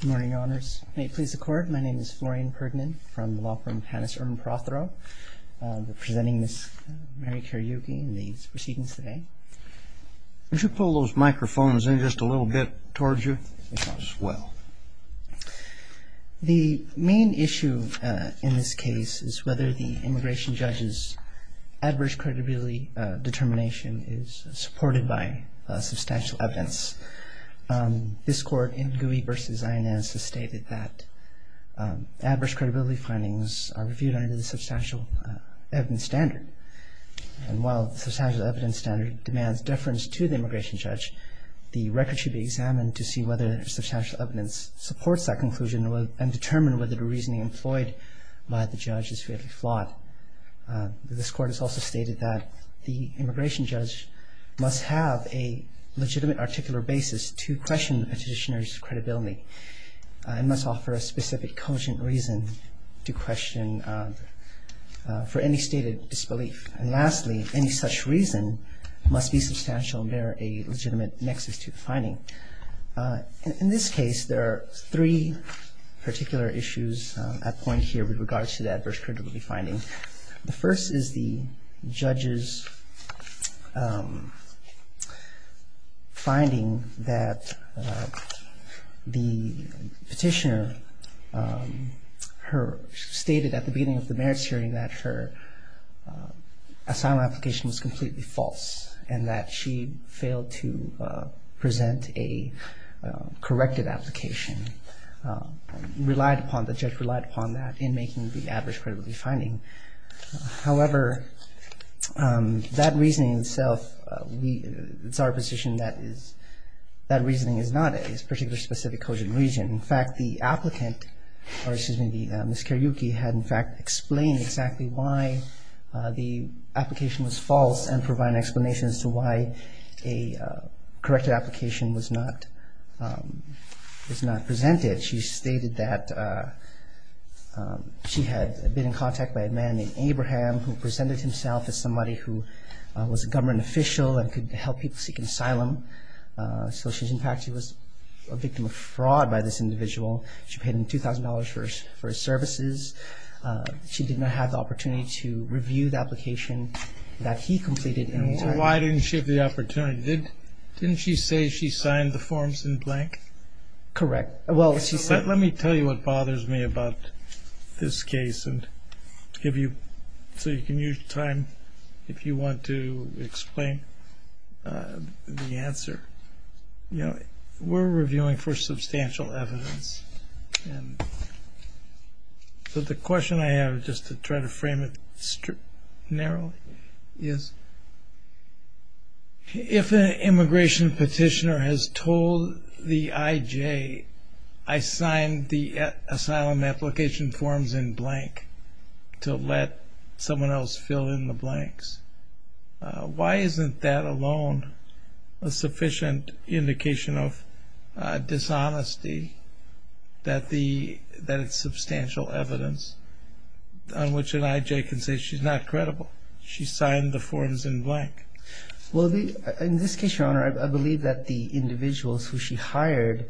Good morning, Your Honors. May it please the Court, my name is Florian Perdnin from the Law Firm of Hannes Erwin Prothero. We're presenting Ms. Mary Kariuki and these proceedings today. Would you pull those microphones in just a little bit towards you as well? The main issue in this case is whether the immigration judge's adverse credibility determination is supported by substantial evidence. This Court in Gouy v. Inez has stated that adverse credibility findings are reviewed under the substantial evidence standard. And while the substantial evidence standard demands deference to the immigration judge, the record should be examined to see whether substantial evidence supports that conclusion and determine whether the reasoning employed by the judge is fairly flawed. This Court has also stated that the immigration judge must have a legitimate articular basis to question the petitioner's credibility and must offer a specific cogent reason to question for any stated disbelief. And lastly, any such reason must be substantial and bear a legitimate nexus to the finding. In this case, there are three particular issues at point here with regards to the adverse credibility findings. The first is the judge's finding that the petitioner stated at the beginning of the merits hearing that her asylum application was completely false and that she failed to present a corrected application. The judge relied upon that in making the adverse credibility finding. However, that reasoning itself, it's our position that that reasoning is not a particular specific cogent reason. In fact, the applicant, or excuse me, Ms. Kiryuki, had in fact explained exactly why the application was false and provided an explanation as to why a corrected application was not presented. She stated that she had been in contact by a man named Abraham who presented himself as somebody who was a government official and could help people seek asylum. So, in fact, she was a victim of fraud by this individual. She paid him $2,000 for his services. She did not have the opportunity to review the application that he completed. And why didn't she have the opportunity? Didn't she say she signed the forms in blank? Correct. Let me tell you what bothers me about this case so you can use time if you want to explain the answer. We're reviewing for substantial evidence. So the question I have, just to try to frame it narrowly, is if an immigration petitioner has told the IJ, I signed the asylum application forms in blank to let someone else fill in the blanks, why isn't that alone a sufficient indication of dishonesty that it's substantial evidence on which an IJ can say she's not credible? She signed the forms in blank. Well, in this case, Your Honor, I believe that the individuals who she hired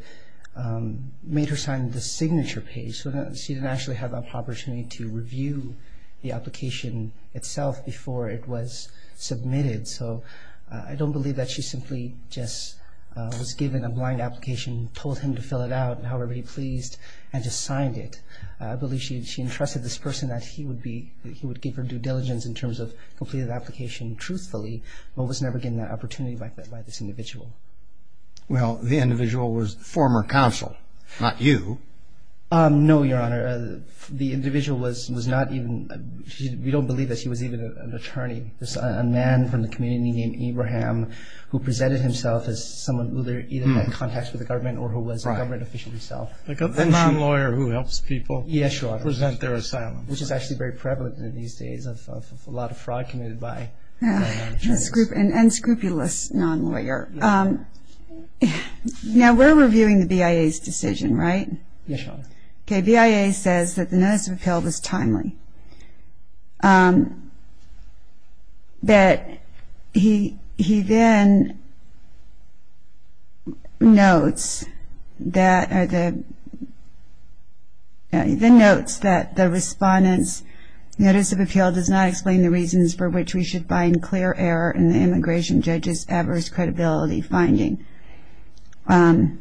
made her sign the signature page. So she didn't actually have an opportunity to review the application itself before it was submitted. So I don't believe that she simply just was given a blank application, told him to fill it out however he pleased, and just signed it. I believe she entrusted this person that he would give her due diligence in terms of completing the application truthfully, but was never given that opportunity by this individual. Well, the individual was the former counsel, not you. No, Your Honor. The individual was not even – we don't believe that she was even an attorney. It was a man from the community named Abraham who presented himself as someone who either had contacts with the government or who was a government official himself. A non-lawyer who helps people present their asylum. Yes, Your Honor. Which is actually very prevalent these days of a lot of fraud committed by non-lawyers. And scrupulous non-lawyer. Now, we're reviewing the BIA's decision, right? Yes, Your Honor. Okay, BIA says that the notice of appeal was timely. That he then notes that the respondents' notice of appeal does not explain the reasons for which we should find clear error in the immigration judge's adverse credibility finding. And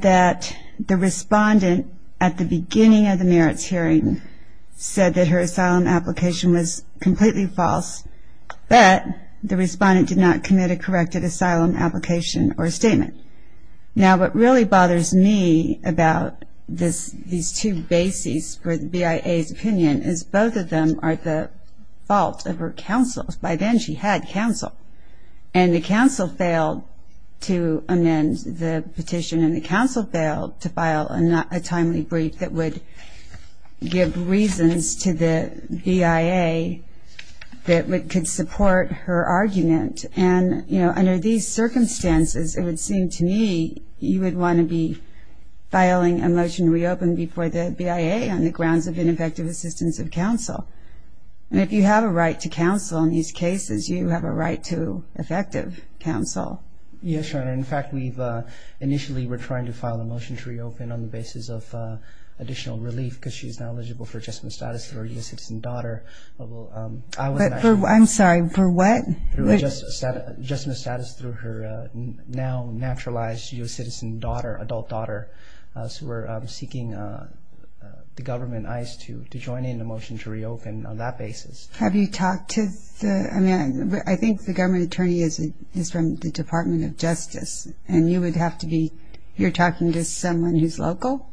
that the respondent at the beginning of the merits hearing said that her asylum application was completely false, but the respondent did not commit a corrected asylum application or statement. Now, what really bothers me about these two bases for the BIA's opinion is both of them are the fault of her counsel. By then, she had counsel. And the counsel failed to amend the petition and the counsel failed to file a timely brief that would give reasons to the BIA that could support her argument. And, you know, under these circumstances, it would seem to me you would want to be filing a motion to reopen before the BIA on the grounds of ineffective assistance of counsel. And if you have a right to counsel in these cases, you have a right to effective counsel. Yes, Your Honor. In fact, initially we were trying to file a motion to reopen on the basis of additional relief because she is now eligible for adjustment status through her U.S. citizen daughter. I'm sorry, for what? Adjustment status through her now naturalized U.S. citizen daughter, adult daughter. So we're seeking the government eyes to join in the motion to reopen on that basis. Have you talked to the – I mean, I think the government attorney is from the Department of Justice, and you would have to be – you're talking to someone who's local?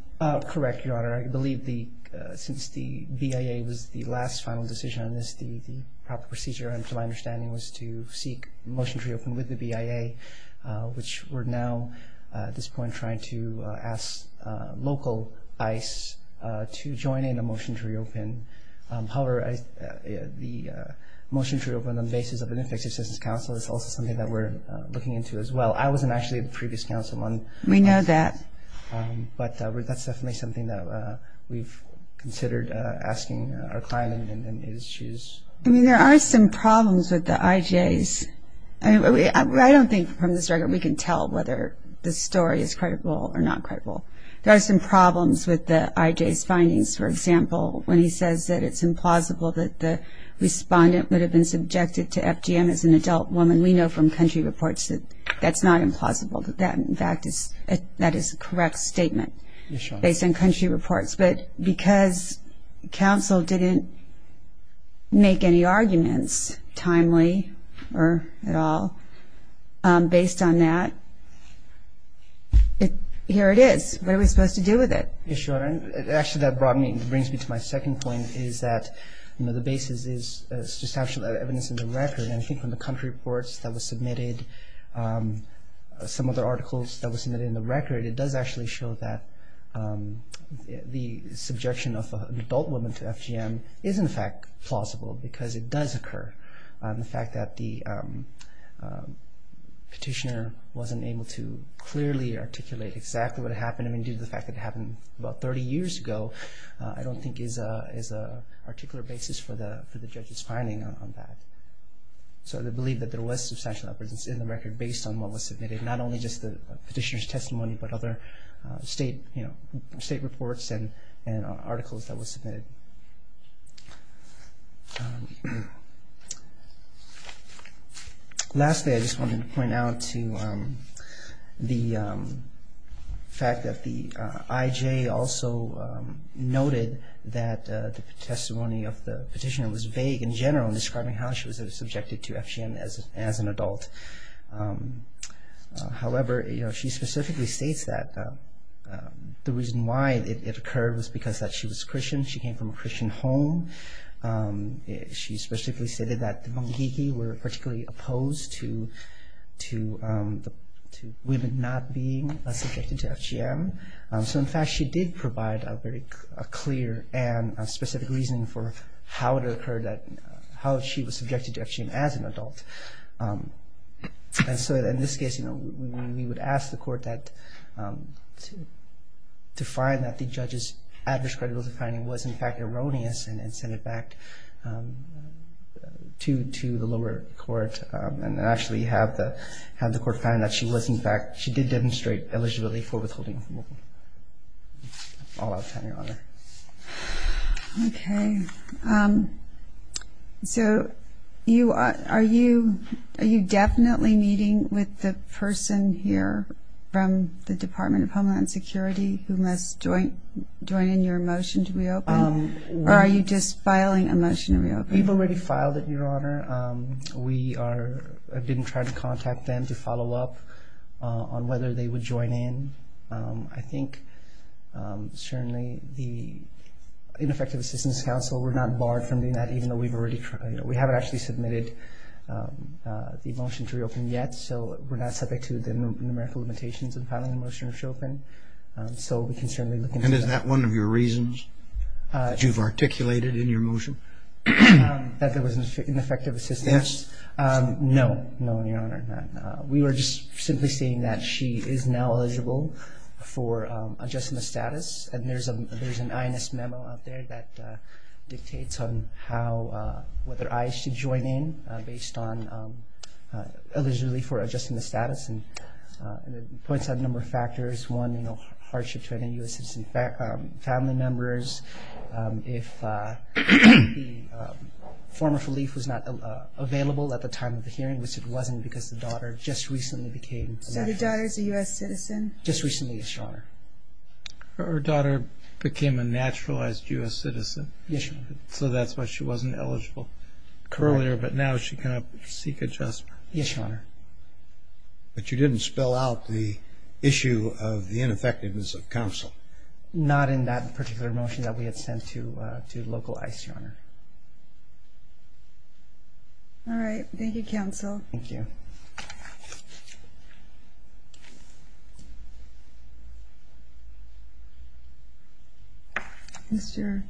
Correct, Your Honor. I believe since the BIA was the last final decision on this, the proper procedure, to my understanding, was to seek a motion to reopen with the BIA, which we're now at this point trying to ask local ICE to join in a motion to reopen. However, the motion to reopen on the basis of an ineffective assistance of counsel is also something that we're looking into as well. I wasn't actually at the previous counsel. We know that. But that's definitely something that we've considered asking our client. I mean, there are some problems with the IJs. I don't think from this record we can tell whether the story is credible or not credible. There are some problems with the IJ's findings, for example, when he says that it's implausible that the respondent would have been subjected to FGM as an adult woman. We know from country reports that that's not implausible, that that, in fact, is a correct statement based on country reports. But because counsel didn't make any arguments, timely or at all, based on that, here it is. What are we supposed to do with it? Yes, Your Honor. Actually, that brings me to my second point, is that the basis is substantial evidence in the record. And I think from the country reports that were submitted, some of the articles that were submitted in the record, it does actually show that the subjection of an adult woman to FGM is, in fact, plausible because it does occur. The fact that the petitioner wasn't able to clearly articulate exactly what happened, I mean, due to the fact that it happened about 30 years ago, I don't think is an articulate basis for the judge's finding on that. So I believe that there was substantial evidence in the record based on what was submitted, not only just the petitioner's testimony but other state reports and articles that were submitted. Lastly, I just wanted to point out to the fact that the IJ also noted that the testimony of the petitioner was vague in general in describing how she was subjected to FGM as an adult. However, she specifically states that the reason why it occurred was because she was Christian. She came from a Christian home. She specifically stated that the Mungikiki were particularly opposed to women not being subjected to FGM. So, in fact, she did provide a very clear and specific reason for how it occurred that how she was subjected to FGM as an adult. And so, in this case, we would ask the court to find that the judge's adverse credibility finding was, in fact, erroneous and send it back to the lower court and actually have the court find that she was, in fact, she did demonstrate eligibility for withholding FGM. Okay. So, are you definitely meeting with the person here from the Department of Homeland Security who must join in your motion to reopen? Or are you just filing a motion to reopen? We've already filed it, Your Honor. We didn't try to contact them to follow up on whether they would join in. I think, certainly, the Ineffective Assistance Council were not barred from doing that, even though we've already tried. We haven't actually submitted the motion to reopen yet. So, we're not subject to the numerical limitations in filing a motion to reopen. So, we can certainly look into that. And is that one of your reasons that you've articulated in your motion? That there was ineffective assistance? Yes. No. No, Your Honor, not. We were just simply saying that she is now eligible for adjusting the status. And there's an INS memo out there that dictates on how, whether IH should join in based on eligibility for adjusting the status. And it points out a number of factors. One, you know, hardship to any U.S. citizen family members. If the form of relief was not available at the time of the hearing, which it wasn't because the daughter just recently became a naturalized U.S. citizen. So, the daughter is a U.S. citizen? Just recently, yes, Your Honor. Her daughter became a naturalized U.S. citizen. Yes, Your Honor. So, that's why she wasn't eligible earlier, but now she cannot seek adjustment. Yes, Your Honor. But you didn't spell out the issue of the ineffectiveness of counsel? Not in that particular motion that we had sent to local ICE, Your Honor. All right. Thank you, counsel. Thank you. Mr.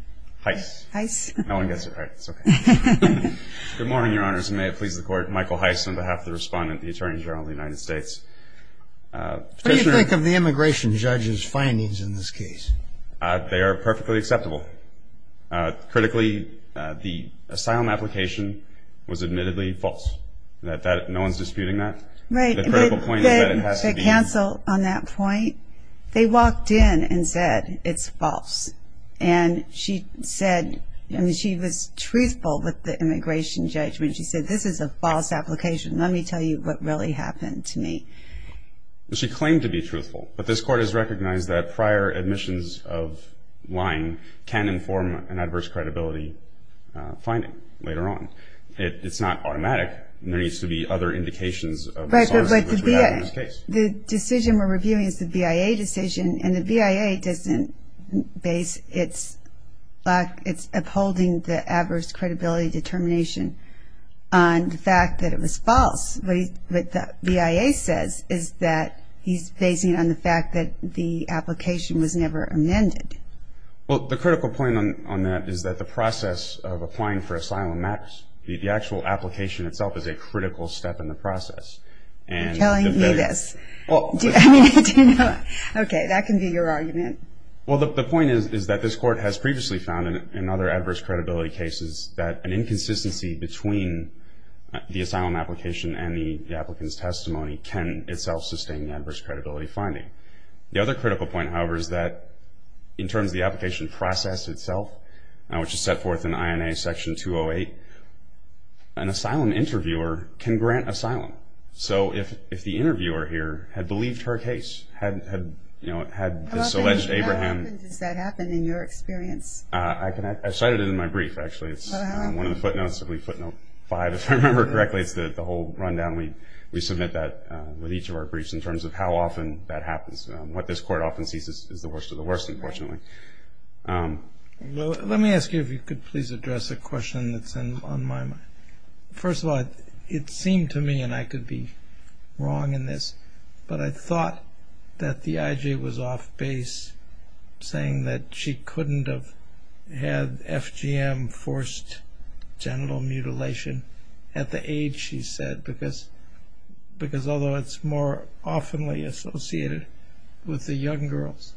Heiss. Heiss. No one gets it right. It's okay. Good morning, Your Honors, and may it please the Court. Michael Heiss on behalf of the Respondent of the Attorney General of the United States. What do you think of the immigration judge's findings in this case? They are perfectly acceptable. Critically, the asylum application was admittedly false. No one is disputing that. Right. The critical point is that it has to be. The counsel on that point, they walked in and said, it's false. And she said, she was truthful with the immigration judge when she said, this is a false application. Let me tell you what really happened to me. She claimed to be truthful, but this Court has recognized that prior admissions of lying can inform an adverse credibility finding later on. It's not automatic. There needs to be other indications of the sorts which we have in this case. Right, but the decision we're reviewing is the BIA decision, and the BIA doesn't base its abholding the adverse credibility determination on the fact that it was false. What the BIA says is that he's basing it on the fact that the application was never amended. Well, the critical point on that is that the process of applying for asylum matters. The actual application itself is a critical step in the process. You're telling me this. Okay, that can be your argument. Well, the point is that this Court has previously found in other adverse credibility cases that an inconsistency between the asylum application and the applicant's testimony can itself sustain the adverse credibility finding. The other critical point, however, is that in terms of the application process itself, which is set forth in INA Section 208, an asylum interviewer can grant asylum. So if the interviewer here had believed her case, had this alleged Abraham. How often does that happen in your experience? I cite it in my brief, actually. It's one of the footnotes, Footnote 5, if I remember correctly. It's the whole rundown. We submit that with each of our briefs in terms of how often that happens. What this Court often sees is the worst of the worst, unfortunately. Let me ask you if you could please address a question that's on my mind. First of all, it seemed to me, and I could be wrong in this, but I thought that the IJ was off base saying that she couldn't have had FGM, forced genital mutilation, at the age she said, because although it's more oftenly associated with the young girls,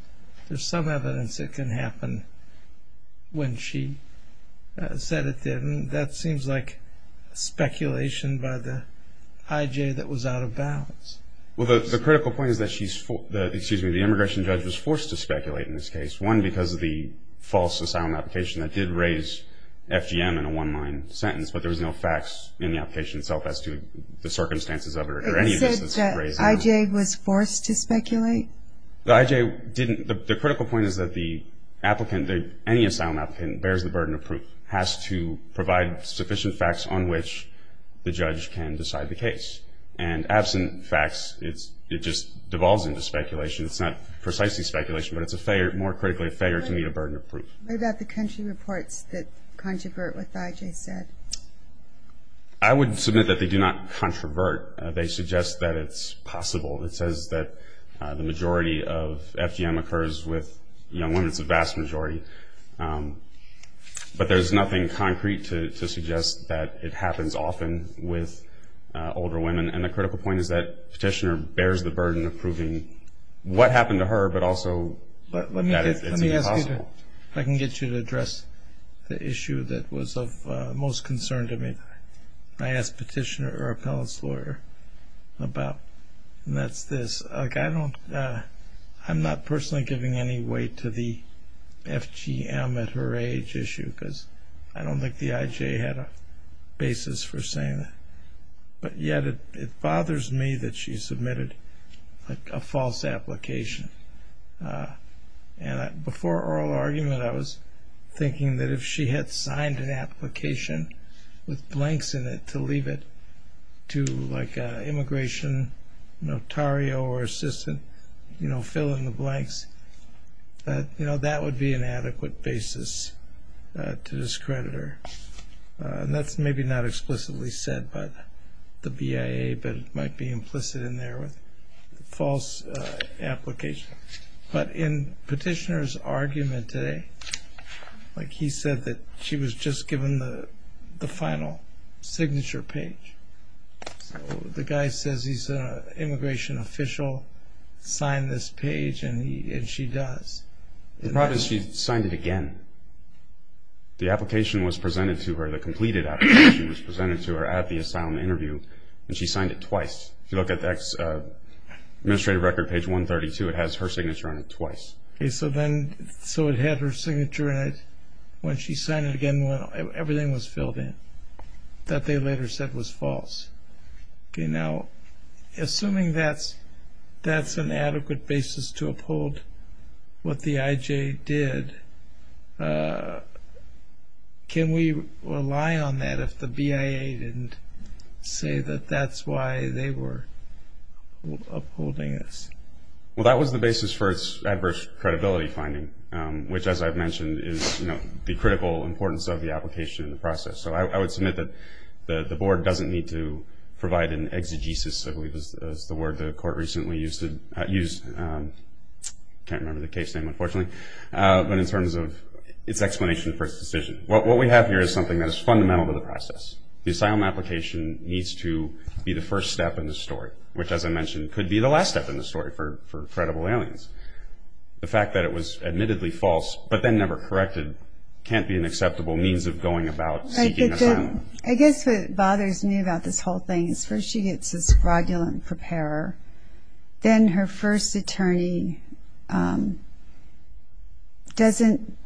there's some evidence it can happen when she said it didn't. That seems like speculation by the IJ that was out of bounds. The critical point is that the immigration judge was forced to speculate in this case. One, because of the false asylum application that did raise FGM in a one-line sentence, but there was no facts in the application itself as to the circumstances of it. It said that IJ was forced to speculate? The critical point is that any asylum applicant bears the burden of proof, has to provide sufficient facts on which the judge can decide the case. And absent facts, it just devolves into speculation. It's not precisely speculation, but it's more critically a failure to meet a burden of proof. What about the country reports that controvert what the IJ said? I would submit that they do not controvert. They suggest that it's possible. It says that the majority of FGM occurs with young women. It's a vast majority. But there's nothing concrete to suggest that it happens often with older women. And the critical point is that Petitioner bears the burden of proving what happened to her, but also that it's even possible. If I can get you to address the issue that was of most concern to me. I asked Petitioner or a palace lawyer about, and that's this. I'm not personally giving any weight to the FGM at her age issue because I don't think the IJ had a basis for saying that. But yet it bothers me that she submitted a false application. Before oral argument, I was thinking that if she had signed an application with blanks in it to leave it to like an immigration notario or assistant filling the blanks, that would be an adequate basis to discredit her. And that's maybe not explicitly said by the BIA, but it might be implicit in there with a false application. But in Petitioner's argument today, he said that she was just given the final signature page. So the guy says he's an immigration official, signed this page, and she does. The problem is she signed it again. The application was presented to her, the completed application was presented to her at the asylum interview, and she signed it twice. If you look at the administrative record, page 132, it has her signature on it twice. So it had her signature on it. When she signed it again, everything was filled in. That they later said was false. Now, assuming that's an adequate basis to uphold what the IJ did, can we rely on that if the BIA didn't say that that's why they were upholding this? Well, that was the basis for its adverse credibility finding, which, as I've mentioned, is the critical importance of the application and the process. So I would submit that the Board doesn't need to provide an exegesis, I believe is the word the Court recently used to use. I can't remember the case name, unfortunately. But in terms of its explanation for its decision, what we have here is something that is fundamental to the process. The asylum application needs to be the first step in the story, which, as I mentioned, could be the last step in the story for credible aliens. The fact that it was admittedly false but then never corrected can't be an acceptable means of going about seeking asylum. I guess what bothers me about this whole thing is first she gets this fraudulent preparer, then her first attorney doesn't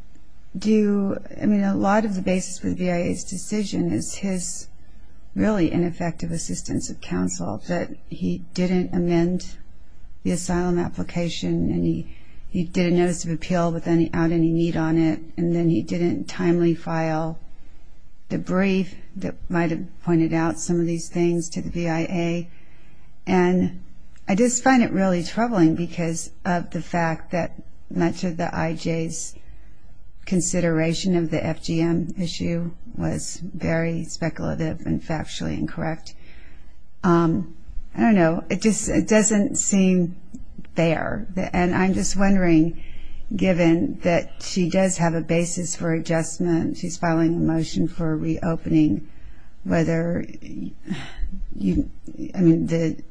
do – I mean, a lot of the basis for the BIA's decision is his really ineffective assistance of counsel, that he didn't amend the asylum application and he didn't notice of appeal without any need on it, and then he didn't timely file the brief that might have pointed out some of these things to the BIA. And I just find it really troubling because of the fact that much of the IJ's consideration of the FGM issue was very speculative and factually incorrect. I don't know. It just doesn't seem fair. And I'm just wondering, given that she does have a basis for adjustment, she's filing a motion for reopening, whether – I mean, the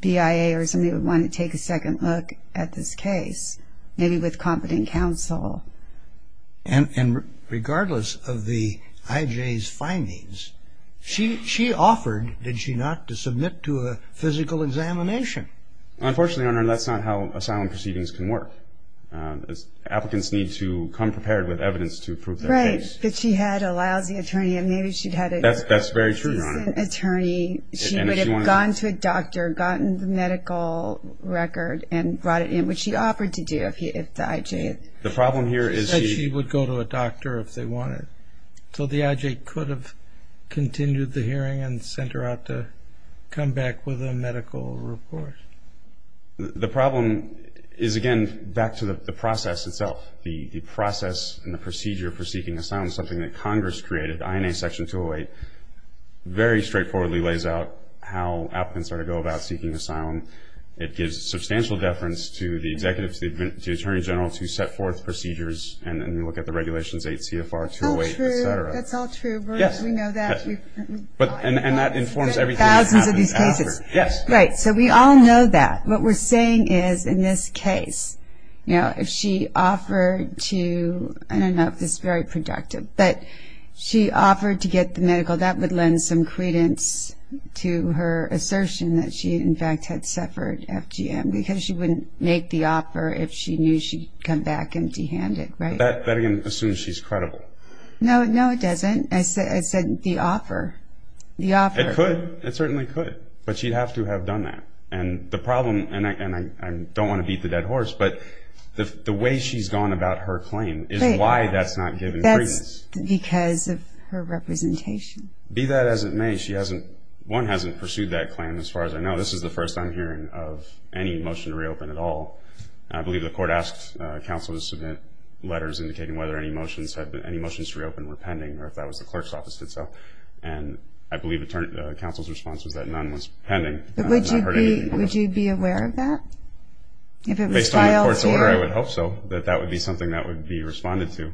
BIA or somebody would want to take a second look at this case, maybe with competent counsel. And regardless of the IJ's findings, she offered, did she not, to submit to a physical examination? Unfortunately, Your Honor, that's not how asylum proceedings can work. Applicants need to come prepared with evidence to prove their case. But she had a lousy attorney, and maybe she'd had a decent attorney. That's very true, Your Honor. She would have gone to a doctor, gotten the medical record, and brought it in, which she offered to do if the IJ – The problem here is she – She said she would go to a doctor if they wanted. So the IJ could have continued the hearing and sent her out to come back with a medical report. The problem is, again, back to the process itself. The process and the procedure for seeking asylum, something that Congress created, INA Section 208, very straightforwardly lays out how applicants are to go about seeking asylum. It gives substantial deference to the executives, to the attorney general to set forth procedures, and then you look at the Regulations 8 CFR 208, et cetera. That's all true. That's all true. We know that. And that informs everything that happens after. Thousands of these cases. Yes. Right. So we all know that. What we're saying is, in this case, you know, if she offered to – I don't know if this is very productive, but she offered to get the medical, that would lend some credence to her assertion that she in fact had suffered FGM, because she wouldn't make the offer if she knew she'd come back empty-handed, right? That, again, assumes she's credible. No, no, it doesn't. I said the offer. The offer. It could. It certainly could. But she'd have to have done that. And the problem – and I don't want to beat the dead horse, but the way she's gone about her claim is why that's not given credence. That's because of her representation. Be that as it may, she hasn't – one, hasn't pursued that claim, as far as I know. This is the first I'm hearing of any motion to reopen at all. I believe the court asked counsel to submit letters indicating whether any motions to reopen were pending, or if that was the clerk's office that did so. And I believe counsel's response was that none was pending. But would you be aware of that? Based on the court's order, I would hope so, that that would be something that would be responded to.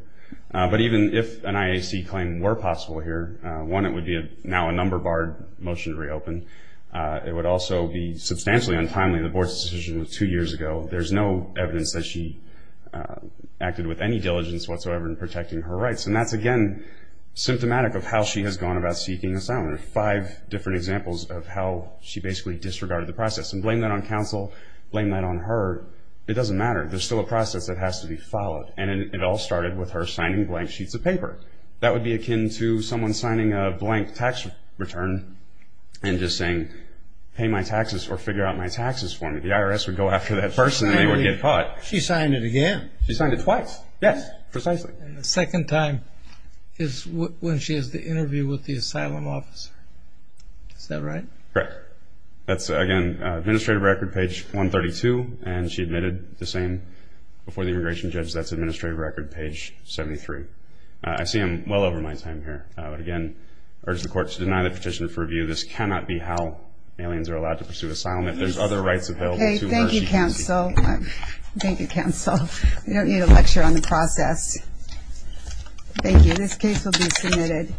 But even if an IAC claim were possible here, one, it would be now a number-barred motion to reopen. It would also be substantially untimely. The board's decision was two years ago. There's no evidence that she acted with any diligence whatsoever in protecting her rights. And that's, again, symptomatic of how she has gone about seeking asylum. There are five different examples of how she basically disregarded the process. And blame that on counsel, blame that on her. It doesn't matter. There's still a process that has to be followed. And it all started with her signing blank sheets of paper. That would be akin to someone signing a blank tax return and just saying, pay my taxes or figure out my taxes for me. The IRS would go after that person and they would get caught. She signed it again. She signed it twice. Yes, precisely. And the second time is when she has the interview with the asylum officer. Is that right? Correct. That's, again, administrative record, page 132. And she admitted the same before the immigration judge. That's administrative record, page 73. I see I'm well over my time here. But, again, I urge the court to deny the petition for review. This cannot be how aliens are allowed to pursue asylum. If there's other rights available to her, she can seek them. Thank you, counsel. Thank you, counsel. We don't need a lecture on the process. Thank you. This case will be submitted.